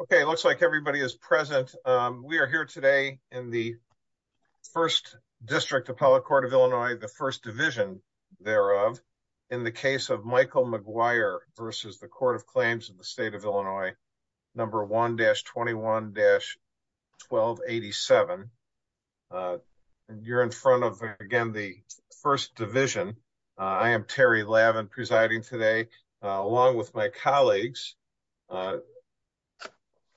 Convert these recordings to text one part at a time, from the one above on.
Okay, looks like everybody is present. We are here today in the First District Appellate Court of Illinois, the First Division thereof, in the case of Michael McGuire versus the Court of Claims in the State of Illinois, number 1-21-1287. You're in front of, again, the First Division. I am Terry Lavin presiding today, along with my colleagues,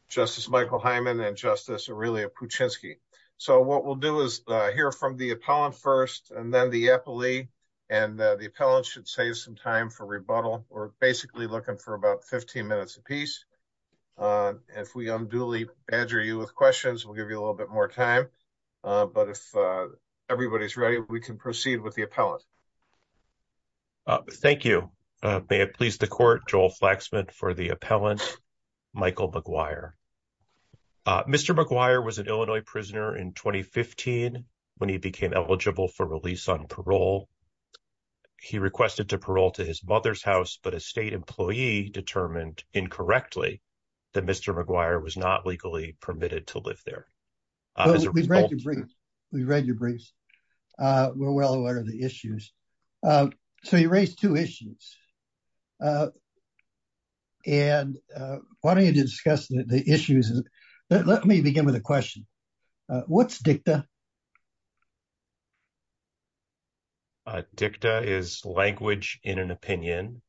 Justice Michael Hyman and Justice Aurelia Puchinski. So what we'll do is hear from the appellant first, and then the appellee, and the appellant should save some time for rebuttal. We're basically looking for about 15 minutes apiece. If we unduly badger you with questions, we'll give you a little bit more time, but if everybody's ready, we can proceed with the appellant. Thank you. May it please the Court, Joel Flaxman for the appellant, Michael McGuire. Mr. McGuire was an Illinois prisoner in 2015 when he became eligible for release on parole. He requested to parole to his mother's house, but a state employee determined incorrectly that Mr. McGuire was not legally permitted to live there. We've read your briefs. We're well aware of the issues. So you raised two issues, and why don't you discuss the issues. Let me begin with a question. What's dicta? Dicta is language in an opinion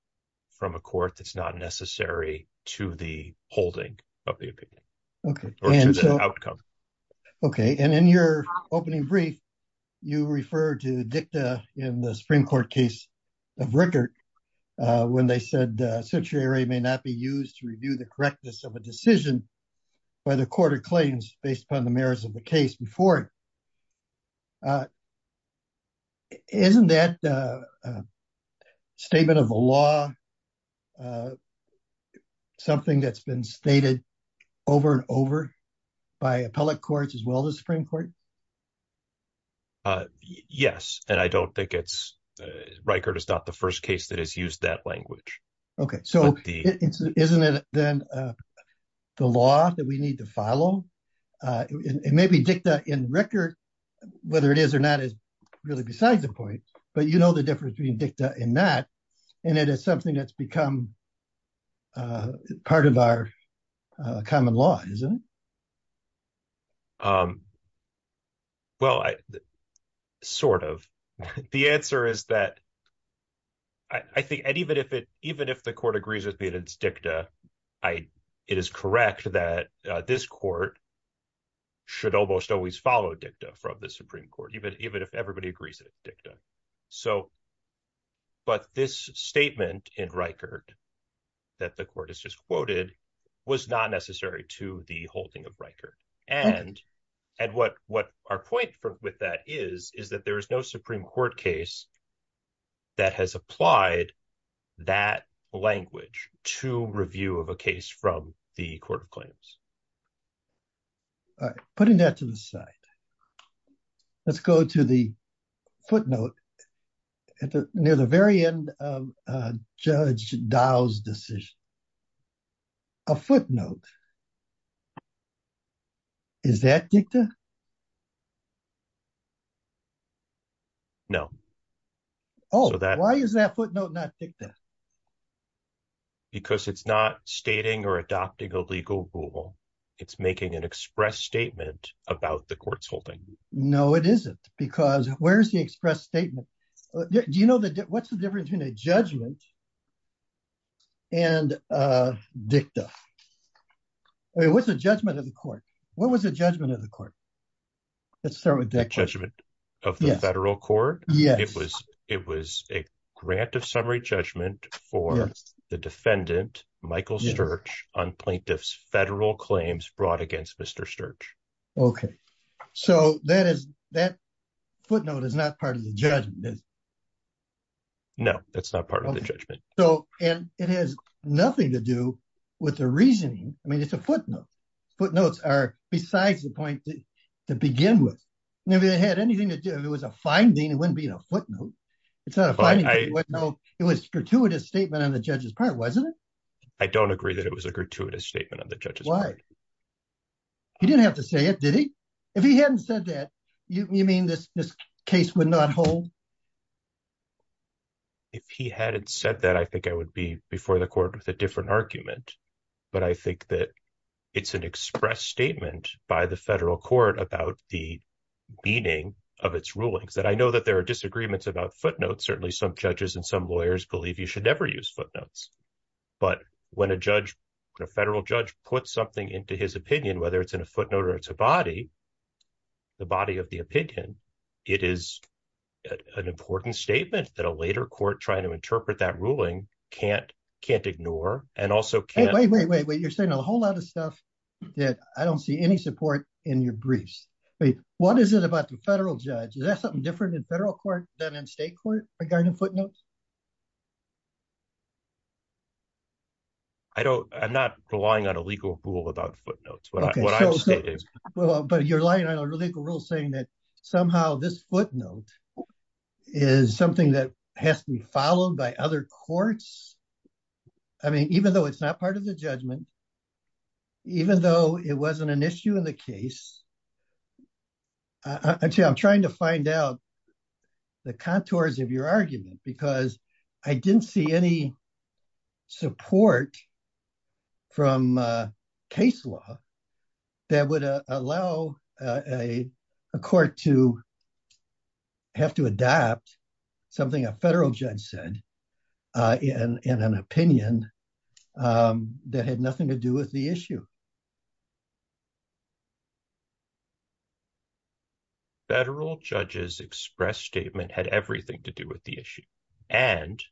from a court that's not necessary to the holding of the opinion. Okay. And in your opening brief, you refer to dicta in the Supreme Court case of Rickert when they said certiorari may not be used to review the correctness of a decision by the court of claims based upon the merits of the case before it. Isn't that a statement of the law, something that's been stated over and over by appellate courts as well as the Supreme Court? Yes, and I don't think it's, Rickert is not the first case that has used that language. Okay, so isn't it then the law that we need to follow? It may be dicta in Rickert, whether it is or not is really besides the point, but you know the difference between dicta and not, and it is something that's become part of our common law, isn't it? Um, well, I sort of, the answer is that I think, and even if it, even if the court agrees with me that it's dicta, I, it is correct that this court should almost always follow dicta from the Supreme Court, even if everybody agrees with dicta. So, but this statement in Rickert that the court has quoted was not necessary to the holding of Rickert, and what our point with that is, is that there is no Supreme Court case that has applied that language to review of a case from the court of claims. All right, putting that to the side, let's go to the footnote at the near the very end of Judge Dow's decision. A footnote. Is that dicta? No. Oh, why is that footnote not dicta? Because it's not stating or adopting a legal rule. It's making an express statement about the court's holding. No, it isn't, because where's expressed statement? Do you know what's the difference between a judgment and dicta? What's the judgment of the court? What was the judgment of the court? Let's start with that judgment of the federal court. It was, it was a grant of summary judgment for the defendant, Michael Sturge, on plaintiff's federal claims brought against Mr. Sturge. Okay, so that is, that footnote is not part of the judgment, is it? No, that's not part of the judgment. So, and it has nothing to do with the reasoning. I mean, it's a footnote. Footnotes are besides the point to begin with. If it had anything to do, if it was a finding, it wouldn't be in a footnote. It's not a finding. It was a gratuitous statement on the judge's part, wasn't it? I don't agree that it was a gratuitous statement on the judge's part. Did he? If he hadn't said that, you mean this case would not hold? If he hadn't said that, I think I would be before the court with a different argument. But I think that it's an expressed statement by the federal court about the meaning of its rulings. And I know that there are disagreements about footnotes. Certainly some judges and some lawyers believe you should never use footnotes. But when a judge, when a federal judge puts something into his opinion, whether it's in a footnote or it's a body, the body of the opinion, it is an important statement that a later court trying to interpret that ruling can't ignore and also can't... Wait, wait, wait, wait. You're saying a whole lot of stuff that I don't see any support in your briefs. Wait, what is it about the federal judge? Is there something different in federal court than in state court regarding footnotes? I don't, I'm not relying on a legal rule about footnotes, but what I'm saying is... Well, but you're lying on a legal rule saying that somehow this footnote is something that has to be followed by other courts. I mean, even though it's not part of the judgment, even though it wasn't an issue in the case, actually, I'm trying to find out the contours of your argument because I didn't see any support from case law that would allow a court to have to adapt something a federal judge said in an opinion that had nothing to do with the issue. Federal judge's express statement had everything to do with the issue and...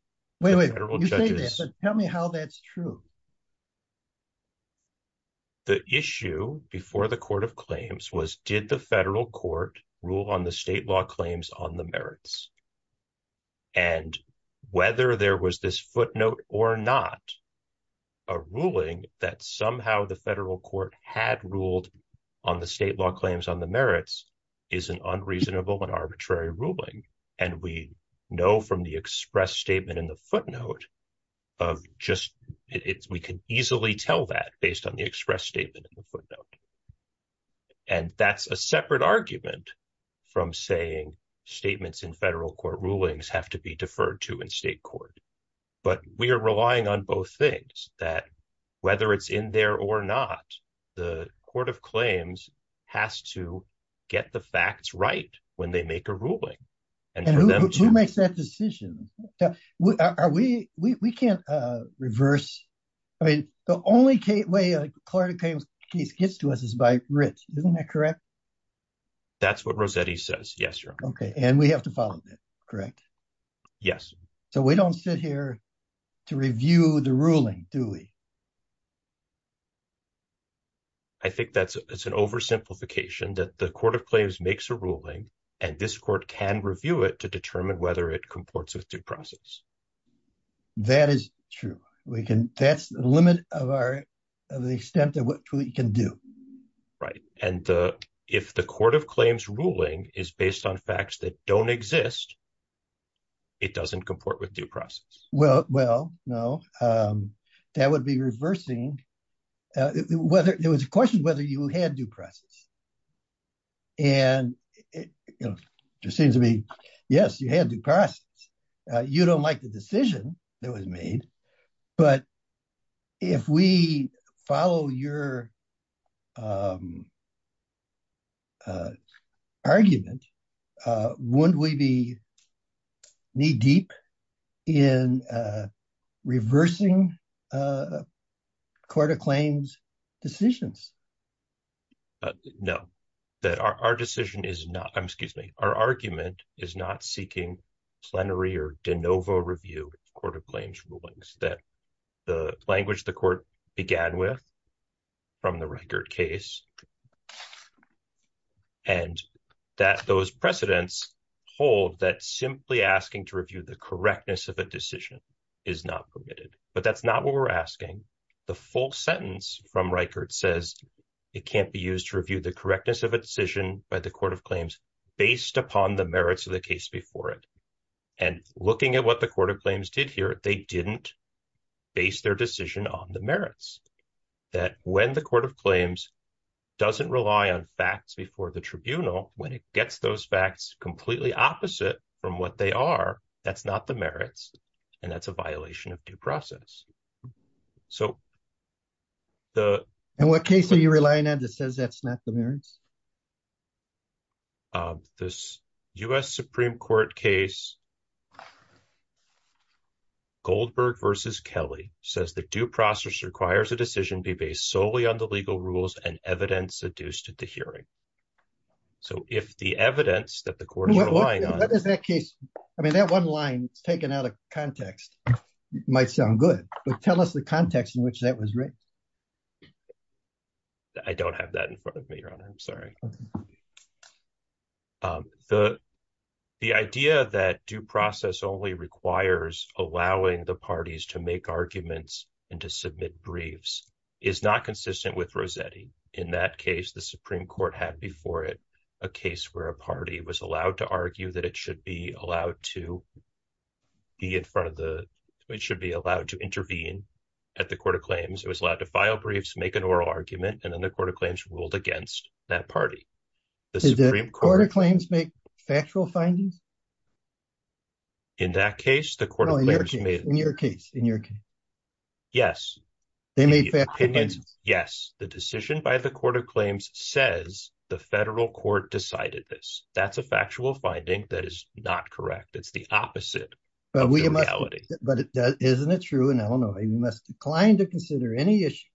Wait, wait, wait. You say that, but tell me how that's true. The issue before the court of claims was did the federal court rule on the state law claims on the merits? And whether there was this footnote or not, a ruling that somehow the federal court had ruled on the state law claims on the merits is an unreasonable and arbitrary ruling. And we know from the express statement in the footnote of just... We can easily tell that based on the express statement in the footnote. And that's a separate argument from saying statements in federal court rulings have to be deferred to in state court. But we are relying on both things, that whether it's in there or not, the court of claims has to get the facts right when they make a ruling. And who makes that decision? We can't reverse... The only way a court of claims case gets to us is by writ. Isn't that correct? That's what Rossetti says. Yes, your honor. Okay. And we have to follow that, correct? Yes. So we don't sit here to review the ruling, do we? I think that's an oversimplification that the court of claims makes a ruling and this court can review it to determine whether it comports with due process. That is true. That's the limit of the extent of what we can do. Right. And if the court of claims ruling is based on facts that don't exist, it doesn't comport with due process. Well, no. That would be reversing... There was a question whether you had due process. And it just seems to me, yes, you had due process. You don't like the decision that was made, but if we follow your argument, wouldn't we be knee deep in reversing court of claims decisions? No. That our decision is not... Excuse me. Our argument is not seeking plenary or de novo review of court of claims rulings. That the language the court began with from the Reichert case and that those precedents hold that simply asking to review the correctness of a decision is not permitted. But that's not what we're asking. The full sentence from Reichert says it can't be used to review the correctness of a decision by the court of claims based upon the merits of the case before it. And looking at what the court of claims did here, they didn't base their decision on the merits. That when the court of claims doesn't rely on facts before the tribunal, when it gets those facts completely opposite from what they are, that's not the that says that's not the merits? This U.S. Supreme Court case, Goldberg versus Kelly, says the due process requires a decision be based solely on the legal rules and evidence adduced at the hearing. So if the evidence that the court is relying on... What is that case? I mean, that one line taken out of context might sound good, but tell us the context in which that was written. I don't have that in front of me, Your Honor. I'm sorry. The idea that due process only requires allowing the parties to make arguments and to submit briefs is not consistent with Rossetti. In that case, the Supreme Court had before it a case where a party was allowed to argue that it should be allowed to be in front of the... It should be allowed to intervene at the court of claims. It was allowed to file briefs, make an oral argument, and then the court of claims ruled against that party. Did the court of claims make factual findings? In that case, the court of claims made... In your case. Yes. They made factual findings. Yes. The decision by the court of claims says the federal court decided this. That's a factual finding that is not correct. It's the opposite of the reality. But isn't it true in Illinois? We must decline to consider any issue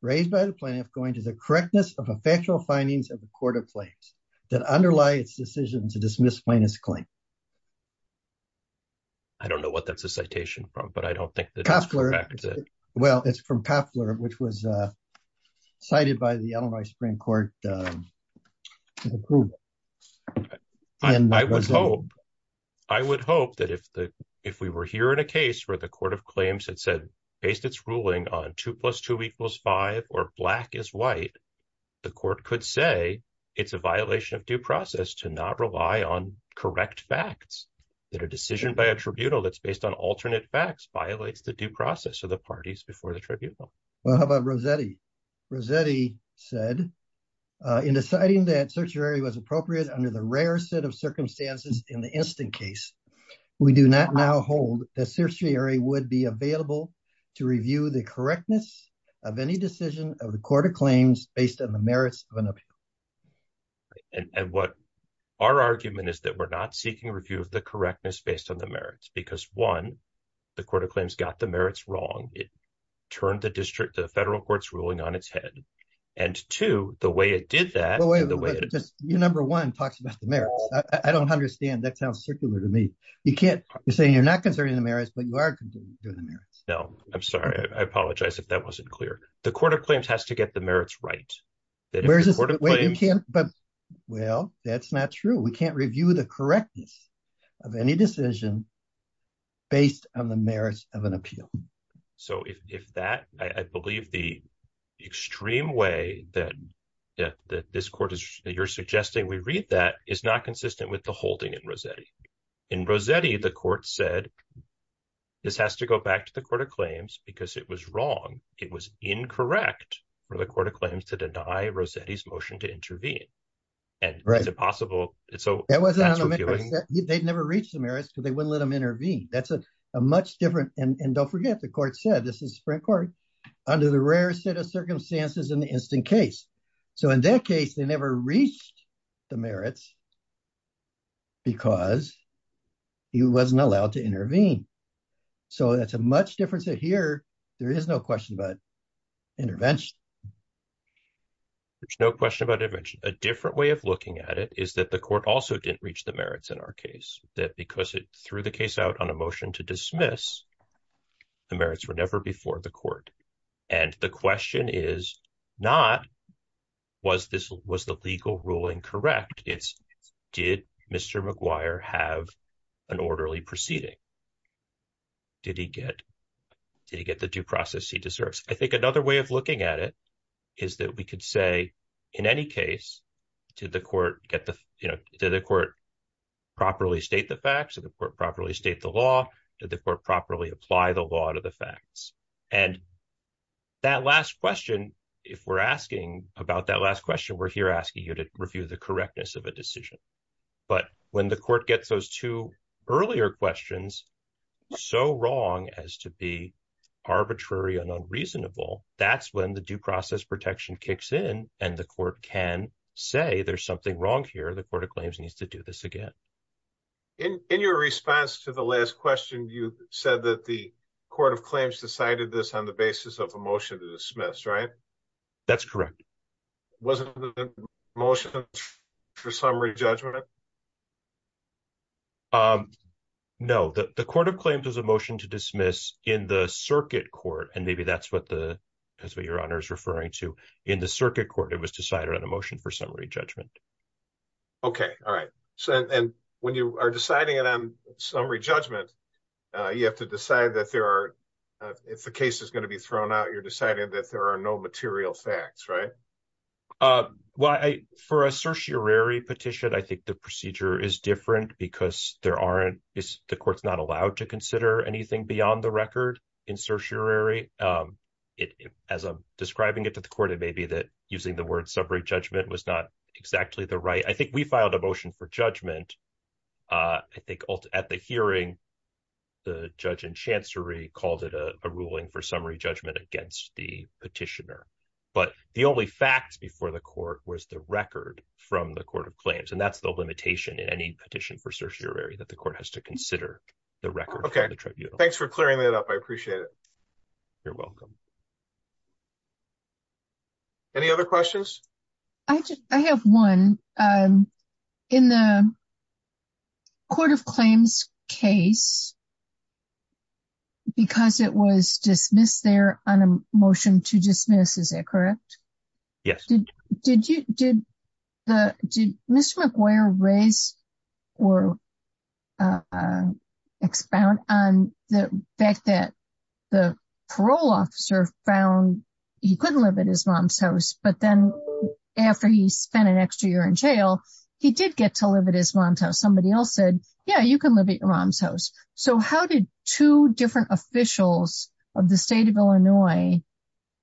raised by the plaintiff going to the correctness of a factual findings of the court of claims that underlie its decision to dismiss plaintiff's claim. I don't know what that's a citation from, but I don't think that... Well, it's from Koffler, which was cited by the Illinois Supreme Court to prove. I would hope that if we were here in a case where the court of claims had said, based its ruling on two plus two equals five, or black is white, the court could say it's a violation of due process to not rely on correct facts. That a decision by a tribunal that's based on alternate facts violates the due process of the parties before the tribunal. Well, how about Rossetti? Rossetti said, in deciding that certiorari was appropriate under the rare set of circumstances in the instant case, we do not now hold that certiorari would be available to review the correctness of any decision of the court of claims based on the merits of an appeal. Our argument is that we're not seeking review of the correctness based on the merits, because one, the court of claims got the merits wrong. It turned the district, the federal court's ruling on its head. And two, the way it did that... Wait, wait, wait, just your number one talks about the merits. I don't understand. That sounds circular to me. You're saying you're not concerned in the merits, but you are concerned in the merits. No, I'm sorry. I apologize if that wasn't clear. The court of claims has to get the merits right. Well, that's not true. We can't review the correctness of any decision based on the merits of an appeal. So if that... I believe the extreme way that this court is... that you're suggesting we read that is not consistent with the holding in Rossetti. In Rossetti, the court said, this has to go back to the court of claims because it was wrong. It was incorrect for the court of claims to deny Rossetti's motion to intervene. And is it possible... So that's what you're doing. They'd never reached the merits because they wouldn't let him intervene. That's a much different... And don't forget, the court said, this is the Supreme Court, under the rarest set of circumstances in the instant case. So in that case, they never reached the merits because he wasn't allowed to intervene. So that's a much different set here. There is no question about intervention. There's no question about intervention. A because it threw the case out on a motion to dismiss, the merits were never before the court. And the question is not, was the legal ruling correct? It's, did Mr. McGuire have an orderly proceeding? Did he get the due process he deserves? I think another way of looking at it is that we could say, in any case, did the court properly state the facts? Did the court properly state the law? Did the court properly apply the law to the facts? And that last question, if we're asking about that last question, we're here asking you to review the correctness of a decision. But when the court gets those two earlier questions so wrong as to be arbitrary and unreasonable, that's when the due process protection kicks in and the court can say there's something wrong here. The Court of Claims needs to do this again. In your response to the last question, you said that the Court of Claims decided this on the basis of a motion to dismiss, right? That's correct. Wasn't the motion for summary judgment? No, the Court of Claims has a motion to dismiss in the circuit court, and maybe that's what the, that's what your honor is referring to. In the circuit court, it was decided on a motion for summary judgment. Okay, all right. So, and when you are deciding it on summary judgment, you have to decide that there are, if the case is going to be thrown out, you're deciding that there are no material facts, right? Well, for a certiorari petition, I think the procedure is different because there aren't, the court's not allowed to consider anything beyond the record in certiorari. As I'm describing it to the court, it may be that using the word summary judgment was not exactly the right, I think we filed a motion for judgment. I think at the hearing, the judge and chancery called it a ruling for summary judgment against the petitioner. But the only fact before the court was the record from the Court of Claims, and that's the limitation in any petition for certiorari, that the court has to consider the record. Okay, thanks for clearing that up. I appreciate it. You're welcome. Any other questions? I just, I have one. In the Court of Claims case, because it was dismissed there on a motion to dismiss, is that correct? Yes. Did you, did the, did Mr. McGuire raise or expound on the fact that the parole officer found he couldn't live at his mom's house, but then after he spent an extra year in jail, he did get to live at his mom's house. Somebody else said, yeah, you can live at your mom's house. So how did two different officials of the state of Illinois,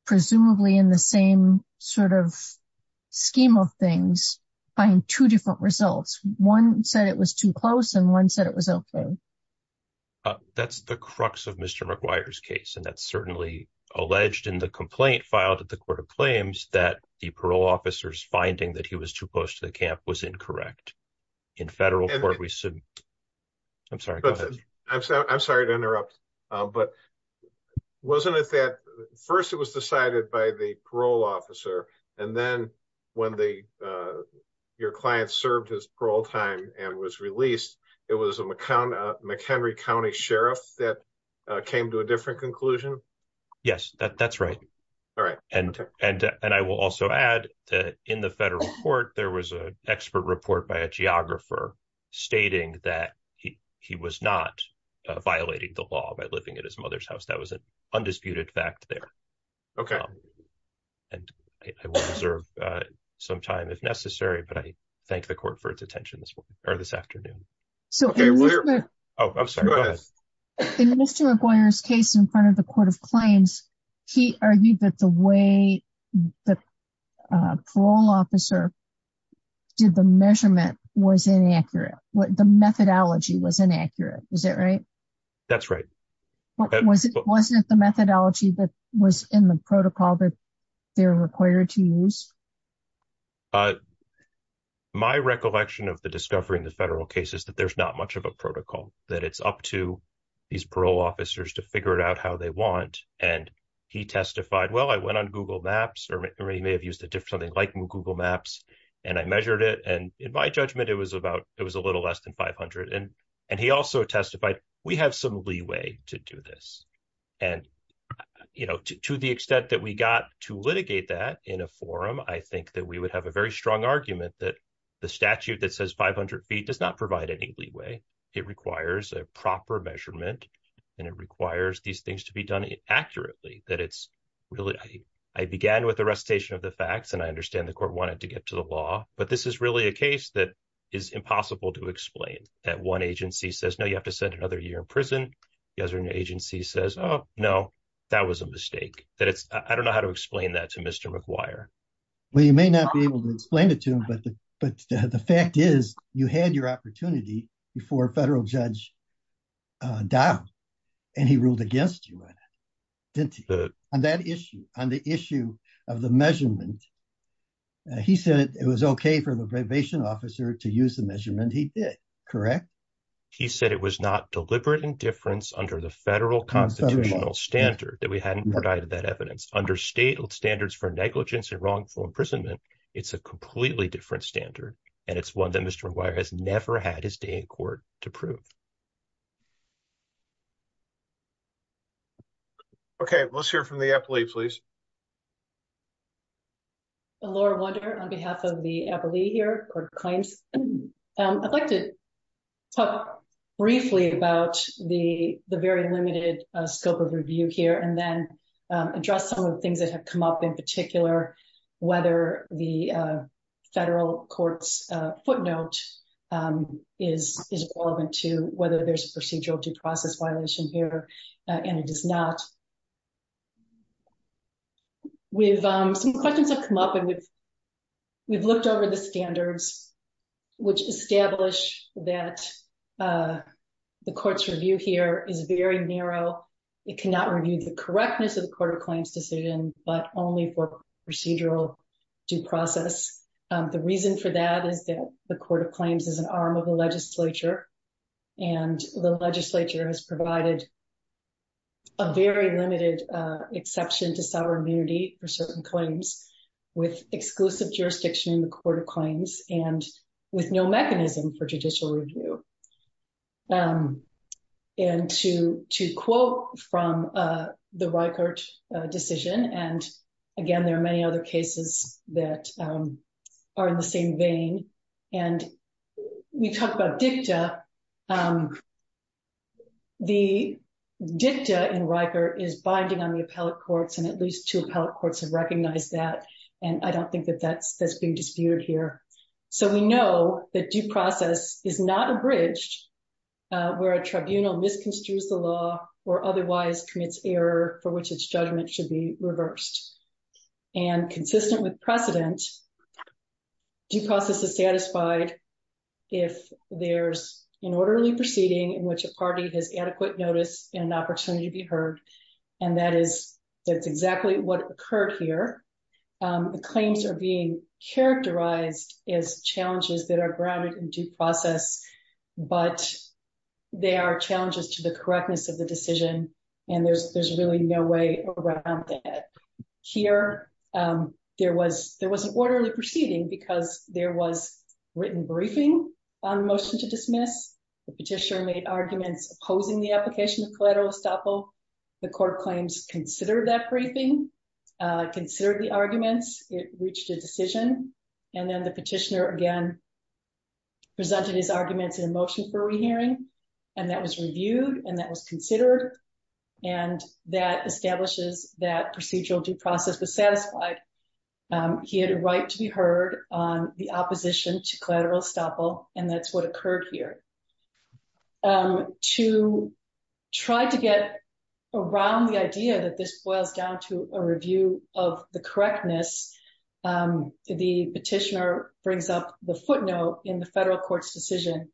presumably in the same sort of scheme of things, find two different results? One said it was too close and one said it was okay. That's the crux of Mr. McGuire's case, and that's certainly alleged in the complaint filed at the camp was incorrect. In federal court, we said, I'm sorry, go ahead. I'm sorry to interrupt, but wasn't it that first it was decided by the parole officer, and then when the, your client served his parole time and was released, it was a McHenry County Sheriff that came to a different conclusion? Yes, that's right. All right. And I will also add that the federal court, there was an expert report by a geographer stating that he was not violating the law by living at his mother's house. That was an undisputed fact there. Okay. And I will reserve some time if necessary, but I thank the court for its attention this morning or this afternoon. So in Mr. McGuire's case in front of the court of claims, he argued that the way the parole officer did the measurement was inaccurate. The methodology was inaccurate. Is that right? That's right. Wasn't the methodology that was in the protocol that they're required to use? My recollection of the discovery in the federal case is that there's not much of a protocol, that it's up to these parole officers to figure it out how they want. And he may have used something like Google Maps and I measured it. And in my judgment, it was a little less than 500. And he also testified, we have some leeway to do this. And to the extent that we got to litigate that in a forum, I think that we would have a very strong argument that the statute that says 500 feet does not provide any leeway. It requires a proper measurement and it requires these things to be done accurately. I began with the recitation of the facts and I understand the court wanted to get to the law, but this is really a case that is impossible to explain. That one agency says, no, you have to send another year in prison. The other agency says, oh, no, that was a mistake. I don't know how to explain that to Mr. McGuire. Well, you may not be able to explain it to him, but the fact is you had your opportunity before a federal judge died and he ruled against you on it, didn't he? On that issue, on the issue of the measurement, he said it was okay for the probation officer to use the measurement he did, correct? He said it was not deliberate indifference under the federal constitutional standard that we hadn't provided that evidence. Under state standards for negligence and wrongful imprisonment, it's a completely different standard and it's one that Mr. McGuire has never had his day in court to prove. Okay, let's hear from the appellee, please. Laura Wunder on behalf of the appellee here. I'd like to talk briefly about the very limited scope of review here and then address some of the things that have come up in particular, whether the federal court's footnote is relevant to whether there's a procedural due process violation here and it is not. Some questions have come up and we've looked over the standards which establish that the court's review here is very narrow. It cannot review the correctness of the court of claims decision but only for procedural due process. The reason for that is that the court of claims is an arm of the legislature and the legislature has provided a very limited exception to sovereign immunity for certain claims with exclusive jurisdiction in the court of claims and with no mechanism for judicial review. And to quote from the Rikert decision, and again there are many other cases that are in the same vein, and we talked about dicta. The dicta in Rikert is binding on the appellate courts and at least two appellate courts have recognized that and I don't think that that's being disputed here. So we know that due process is not abridged where a tribunal misconstrues the law or otherwise commits error for which its judgment should be reversed. And consistent with precedent, due process is satisfied if there's an orderly proceeding in which a party has adequate notice and an opportunity to be heard and that is that's exactly what occurred here. The claims are being characterized as challenges that are grounded in due process but they are challenges to the correctness of the decision and there's there's really no way around that. Here there was there was an orderly proceeding because there was written briefing on the motion to dismiss. The petitioner made arguments opposing the application of collateral estoppel. The court claims considered that briefing, considered the arguments, it reached a decision and then the petitioner again presented his arguments in a motion for re-hearing and that was reviewed and that was considered and that establishes that procedural due process was satisfied. He had a right to be heard on the opposition to collateral estoppel and that's what around the idea that this boils down to a review of the correctness, the petitioner brings up the footnote in the federal court's decision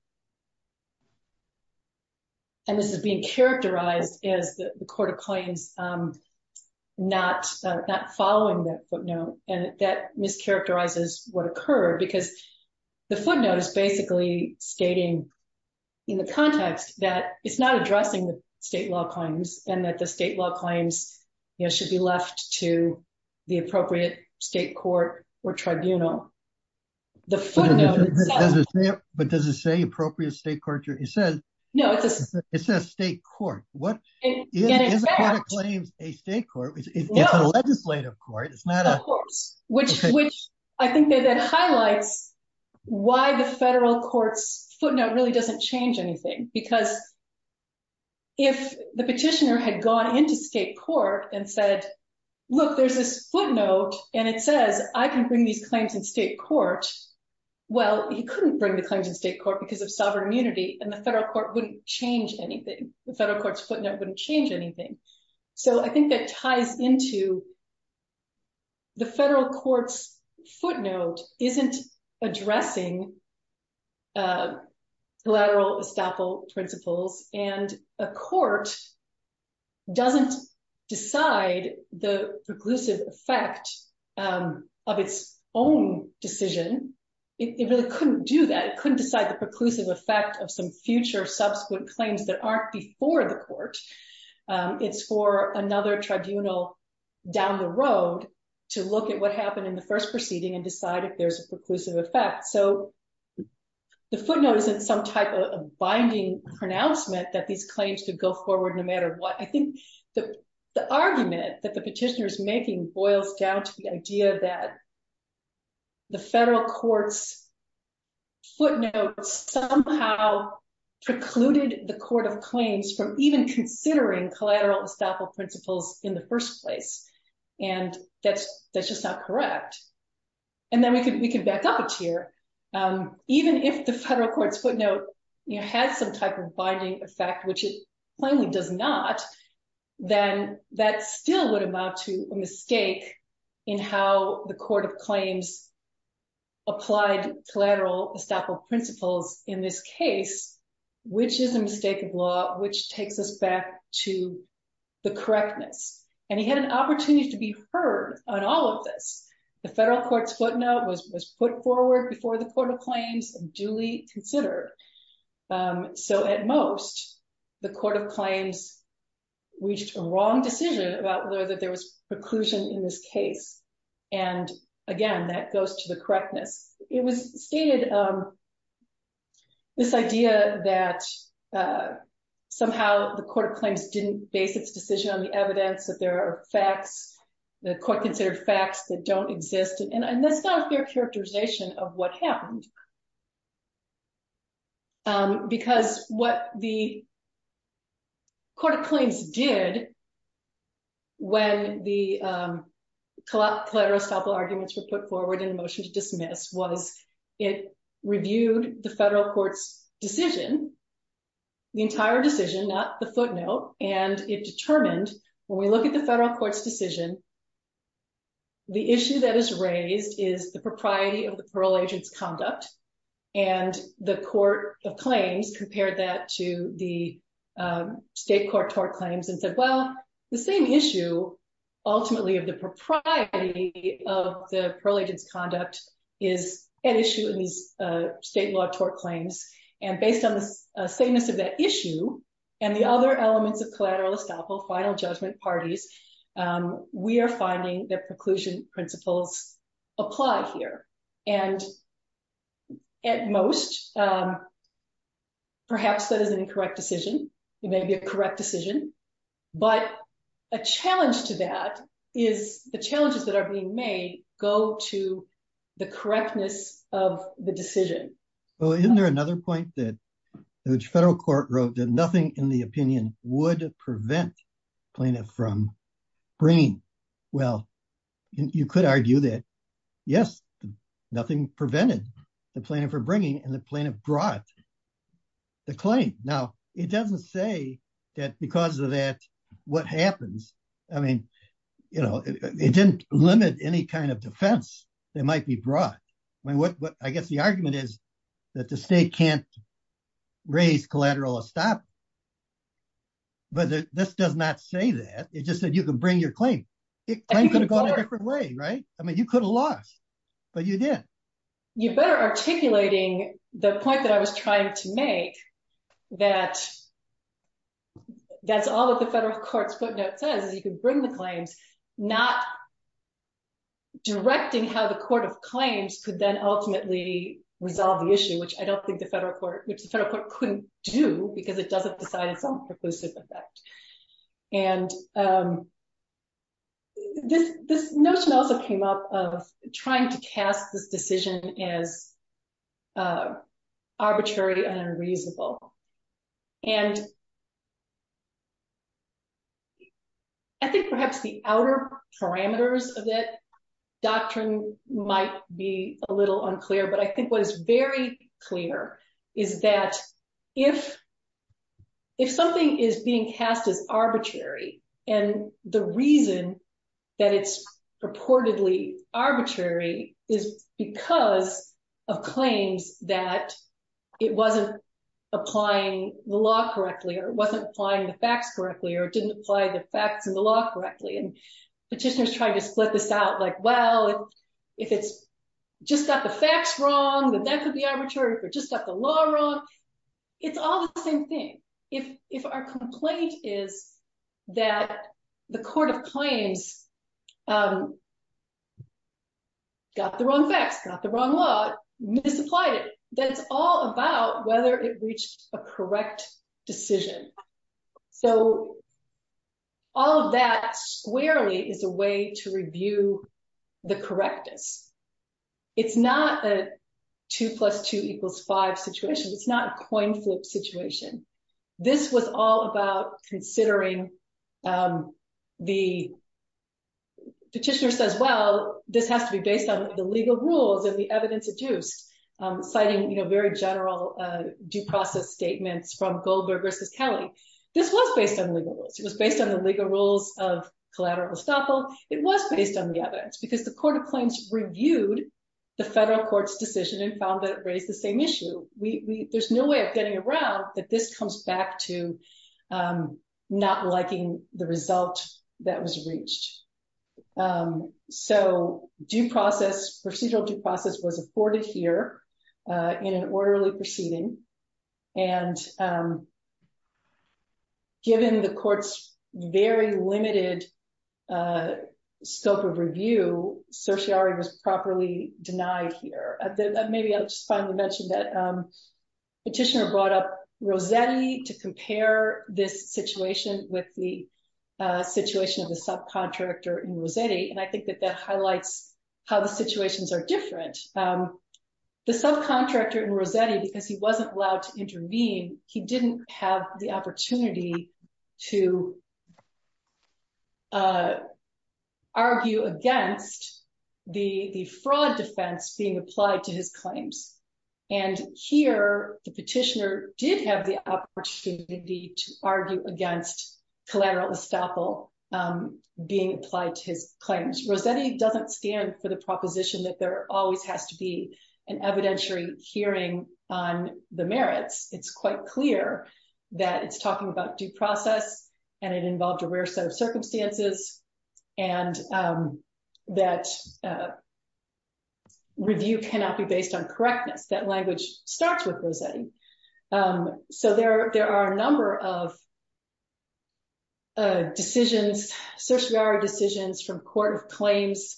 and this is being characterized as the court of claims not following that footnote and that mischaracterizes what occurred because the footnote is basically stating in the context that it's not addressing the state law claims and that the state law claims you know should be left to the appropriate state court or tribunal. But does it say appropriate state court? It says no it's a it's a state court. What is a court of claims a state court? It's a legislative court. It's not a court which which I think that highlights why the federal court's footnote really doesn't change anything because if the petitioner had gone into state court and said look there's this footnote and it says I can bring these claims in state court, well he couldn't bring the claims in state court because of sovereign immunity and the federal court wouldn't change anything. The federal court's footnote wouldn't anything. So I think that ties into the federal court's footnote isn't addressing collateral estoppel principles and a court doesn't decide the preclusive effect of its own decision. It really couldn't do that. It couldn't decide the preclusive effect of some subsequent claims that aren't before the court. It's for another tribunal down the road to look at what happened in the first proceeding and decide if there's a preclusive effect. So the footnote isn't some type of binding pronouncement that these claims could go forward no matter what. I think the argument that the petitioner is making boils down to the idea that the federal court's footnote somehow precluded the court of claims from even considering collateral estoppel principles in the first place and that's just not correct. And then we could back up a tier. Even if the federal court's footnote had some type of binding effect, which it plainly does not, then that still would amount to a mistake in how the court of claims applied collateral estoppel principles in this case, which is a mistake of law, which takes us back to the correctness. And he had an opportunity to be heard on all of this. The federal court's footnote was put forward before the court of claims and duly considered. So at most, the court of claims reached a wrong decision about whether there was preclusion in this case. And again, that goes to the correctness. It was stated, this idea that somehow the court of claims didn't base its decision on the evidence that there are facts, the court considered facts that don't exist. And that's not a fair characterization of what happened. Because what the court of claims did when the collateral estoppel arguments were put forward in the motion to dismiss was it reviewed the federal court's decision, the entire decision, not the footnote, and it determined when we look at the federal court's decision, the issue that is raised is the propriety of the parole agent's conduct. And the court of claims compared that to the state court tort claims and said, well, the same issue ultimately of the propriety of the parole agent's conduct is an issue in these state law tort claims. And based on the salience of that issue and the other elements of collateral estoppel, final judgment parties, we are finding that preclusion principles apply here. And at most, perhaps that is an incorrect decision. It may be a correct decision. But a challenge to that is the challenges that are being made go to the correctness of the decision. Well, isn't there another point that the federal court wrote that nothing in the opinion would prevent plaintiff from bringing? Well, you could argue that, yes, nothing prevented the plaintiff from bringing and the plaintiff brought the claim. Now, it doesn't say that because of that, what happens, I mean, you know, it didn't limit any kind of defense that might be brought. I mean, what I guess the argument is that the state can't raise collateral estoppel, but this does not say that. It just said you can bring your claim. It could have gone a different way, right? I mean, you could have lost, but you did. You're better articulating the point that I was trying to make that that's all that the federal court's footnote says is you can bring the claims, not directing how the court of claims could then ultimately resolve the issue, which I don't think the federal court, which the federal court couldn't do because it doesn't decide its own preclusive effect. And this notion also came up of trying to cast this decision as arbitrary and unreasonable. And I think perhaps the outer parameters of that doctrine might be a little unclear, but I think what is very clear is that if something is being cast as arbitrary, and the reason that it's purportedly arbitrary is because of claims that it wasn't applying the law correctly, or it wasn't applying the facts correctly, or it didn't apply the facts and the law correctly, and petitioners trying to split this out, like, well, if it's just got the facts wrong, then that could be arbitrary, or just got the law wrong. It's all the same thing. If our complaint is that the court of claims got the wrong facts, got the wrong law, misapplied it, then it's all about whether it to review the correctness. It's not a 2 plus 2 equals 5 situation. It's not a coin flip situation. This was all about considering the petitioner says, well, this has to be based on the legal rules and the evidence adduced, citing, you know, very general due process statements from Goldberg versus Kelly. This was based on legal rules. It was based on the legal rules of collateral estoppel. It was based on the evidence, because the court of claims reviewed the federal court's decision and found that it raised the same issue. There's no way of getting around that this comes back to not liking the result that was reached. So due process, procedural due process, was afforded here in an orderly proceeding. And given the court's very limited scope of review, certiorari was properly denied here. Maybe I'll just finally mention that petitioner brought up Rossetti to compare this situation with the situation of the subcontractor in Rossetti, and I think that that highlights how the situations are different. The subcontractor in Rossetti, because he wasn't allowed to intervene, he didn't have the opportunity to argue against the fraud defense being applied to his claims. And here the petitioner did have the opportunity to argue against collateral estoppel being applied to his claims. Rossetti doesn't stand for the proposition that there always has to be an evidentiary hearing on the merits. It's quite clear that it's talking about due process, and it involved a rare set of circumstances, and that review cannot be based on correctness. That language starts with Rossetti. So there are a number of decisions, certiorari decisions from court of claims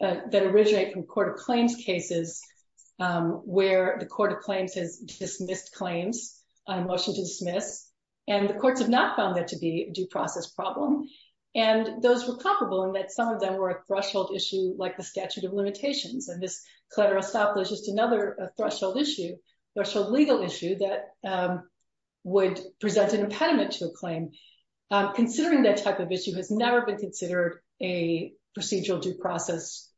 that originate from court of claims cases where the court of claims has dismissed claims, a motion to dismiss, and the courts have not found that to be a due process problem. And those were comparable in that some of them were a threshold issue like the statute of there's a legal issue that would present an impediment to a claim. Considering that type of issue has never been considered a procedural due process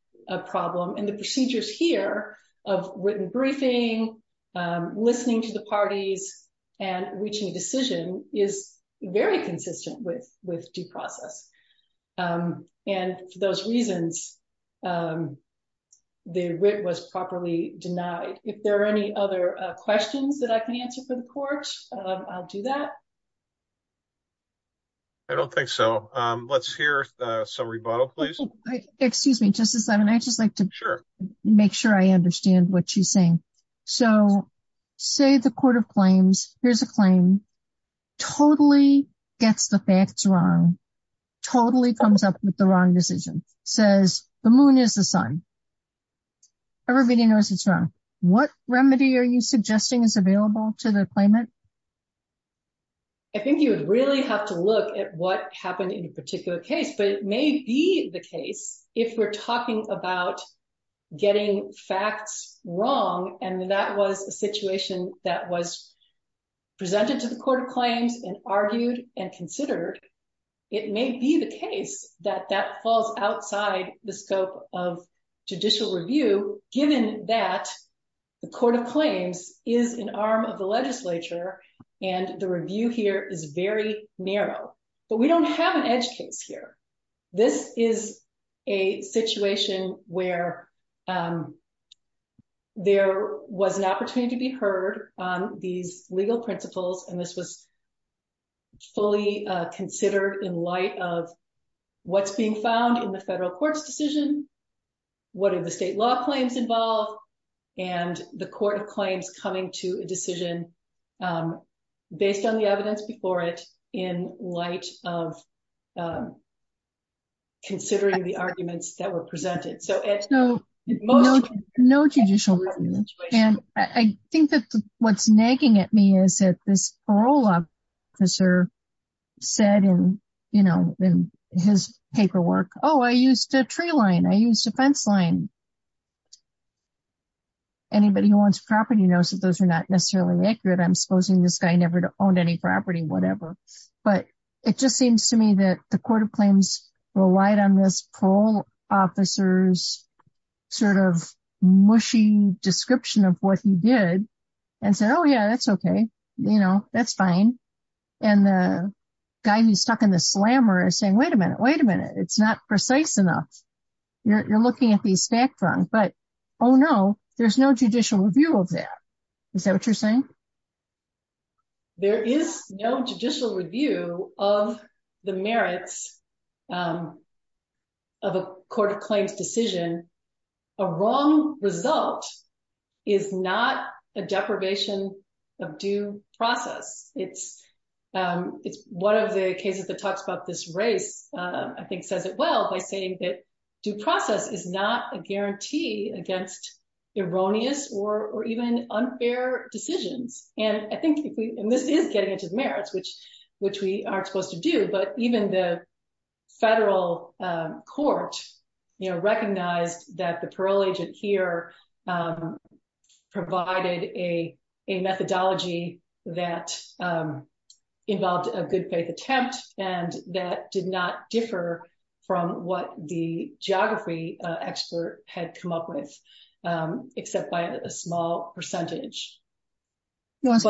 problem, and the procedures here of written briefing, listening to the parties, and reaching a decision is very consistent with due process. And for those reasons, the writ was properly denied. If there are any other questions that I can answer for the court, I'll do that. I don't think so. Let's hear some rebuttal, please. Excuse me, Justice Levin. I'd just like to make sure I understand what you're saying. So say the court of claims, here's a claim, totally gets the facts wrong, totally comes up with the wrong decision, says the moon is the sun. Everybody knows it's wrong. What remedy are you suggesting is available to the claimant? I think you would really have to look at what happened in a particular case, but it may be the case, if we're talking about getting facts wrong, and that was a situation that was presented to the court of claims and argued and considered, it may be the case that that falls outside the scope of judicial review, given that the court of claims is an arm of the legislature, and the review here is very narrow. But we don't have an edge case here. This is a situation where there was an opportunity to be heard on these legal principles, and this was fully considered in light of what's being found in the federal court's decision, what are the state law claims involved, and the court of claims coming to a decision based on the evidence before it, in light of considering the arguments that were presented. No judicial review. And I think that what's nagging at me is that this parole officer said in his paperwork, oh, I used a tree line, I used a fence line. And anybody who owns property knows that those are not necessarily accurate. I'm supposing this guy never owned any property, whatever. But it just seems to me that the court of claims relied on this parole officer's sort of mushy description of what he did, and said, oh, yeah, that's okay. You know, that's fine. And the guy who's stuck in the slammer is saying, wait a minute, wait a minute. You're looking at the spectrum, but, oh, no, there's no judicial review of that. Is that what you're saying? There is no judicial review of the merits of a court of claims decision. A wrong result is not a deprivation of due process. It's one of the cases that talks about this race, I think says it well, by saying that due process is not a guarantee against erroneous or even unfair decisions. And I think if we, and this is getting into the merits, which we aren't supposed to do, but even the federal court, you know, recognized that the parole agent here provided a methodology that involved a good faith attempt, and that did not differ from what the geography expert had come up with, except by a small percentage. What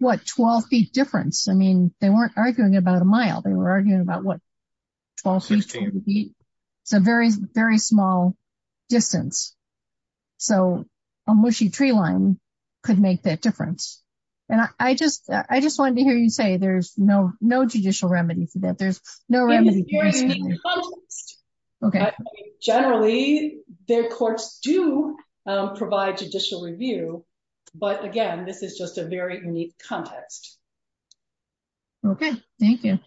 12 feet difference? I mean, they weren't arguing about a mile. They were arguing about 12 feet. It's a very, very small distance. So a mushy tree line could make that difference. And I just wanted to hear you say there's no judicial remedy for that. There's no remedy. Generally, their courts do provide judicial review. But again, this is just a very unique context. Okay. Thank you.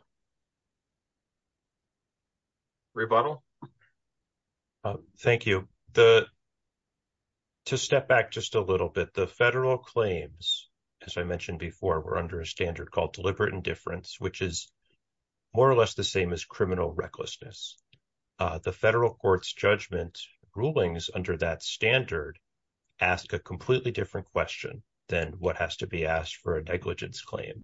Rebuttal. Thank you. To step back just a little bit, the federal claims, as I mentioned before, were under a standard called deliberate indifference, which is more or less the same as criminal recklessness. The federal court's judgment rulings under that standard ask a completely different question than what has to be asked for a negligence claim.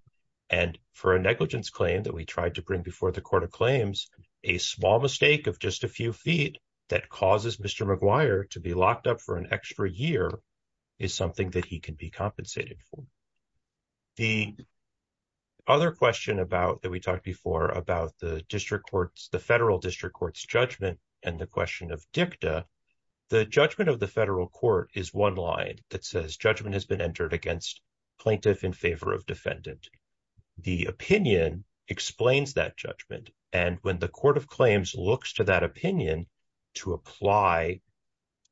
And for a negligence claim that we tried to bring before the court of claims, a small mistake of just a few feet that causes Mr. McGuire to be locked up for an extra year is something that he can be compensated for. The other question that we talked before about the federal district court's judgment and the question of dicta, the judgment of the federal court is one line that says judgment has been entered against plaintiff in favor of defendant. The opinion explains that judgment. And when the court of claims looks to that opinion to apply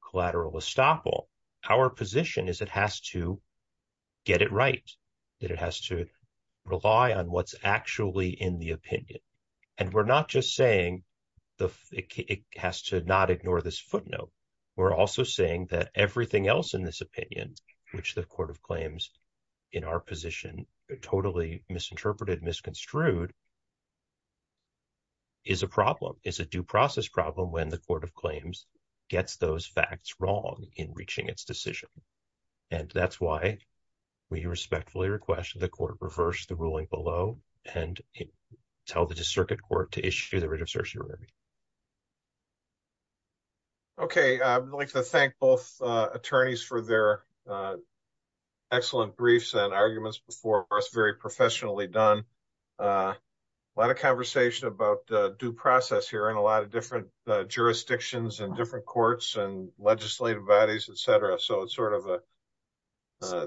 collateral estoppel, our position is it has to get it right, that it has to rely on what's actually in the opinion. And we're not just saying it has to not ignore this footnote. We're also saying that everything else in this opinion, which the court of claims in our position totally misinterpreted, misconstrued, is a problem, is a due process problem when the court of claims gets those facts wrong in reaching its decision. And that's why we respectfully request that the court reverse the ruling below and tell the district court to issue the writ of certiorari. Okay. I'd like to thank both attorneys for their excellent briefs and arguments before us, very professionally done. A lot of conversation about due process here and a lot of different jurisdictions and different courts and legislative bodies, et cetera. So it's sort of a,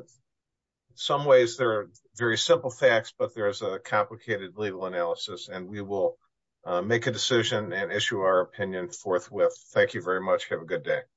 some ways they're very simple facts, but there's a complicated legal analysis and we will make a decision and issue our opinion forthwith. Thank you very much. Have a good day.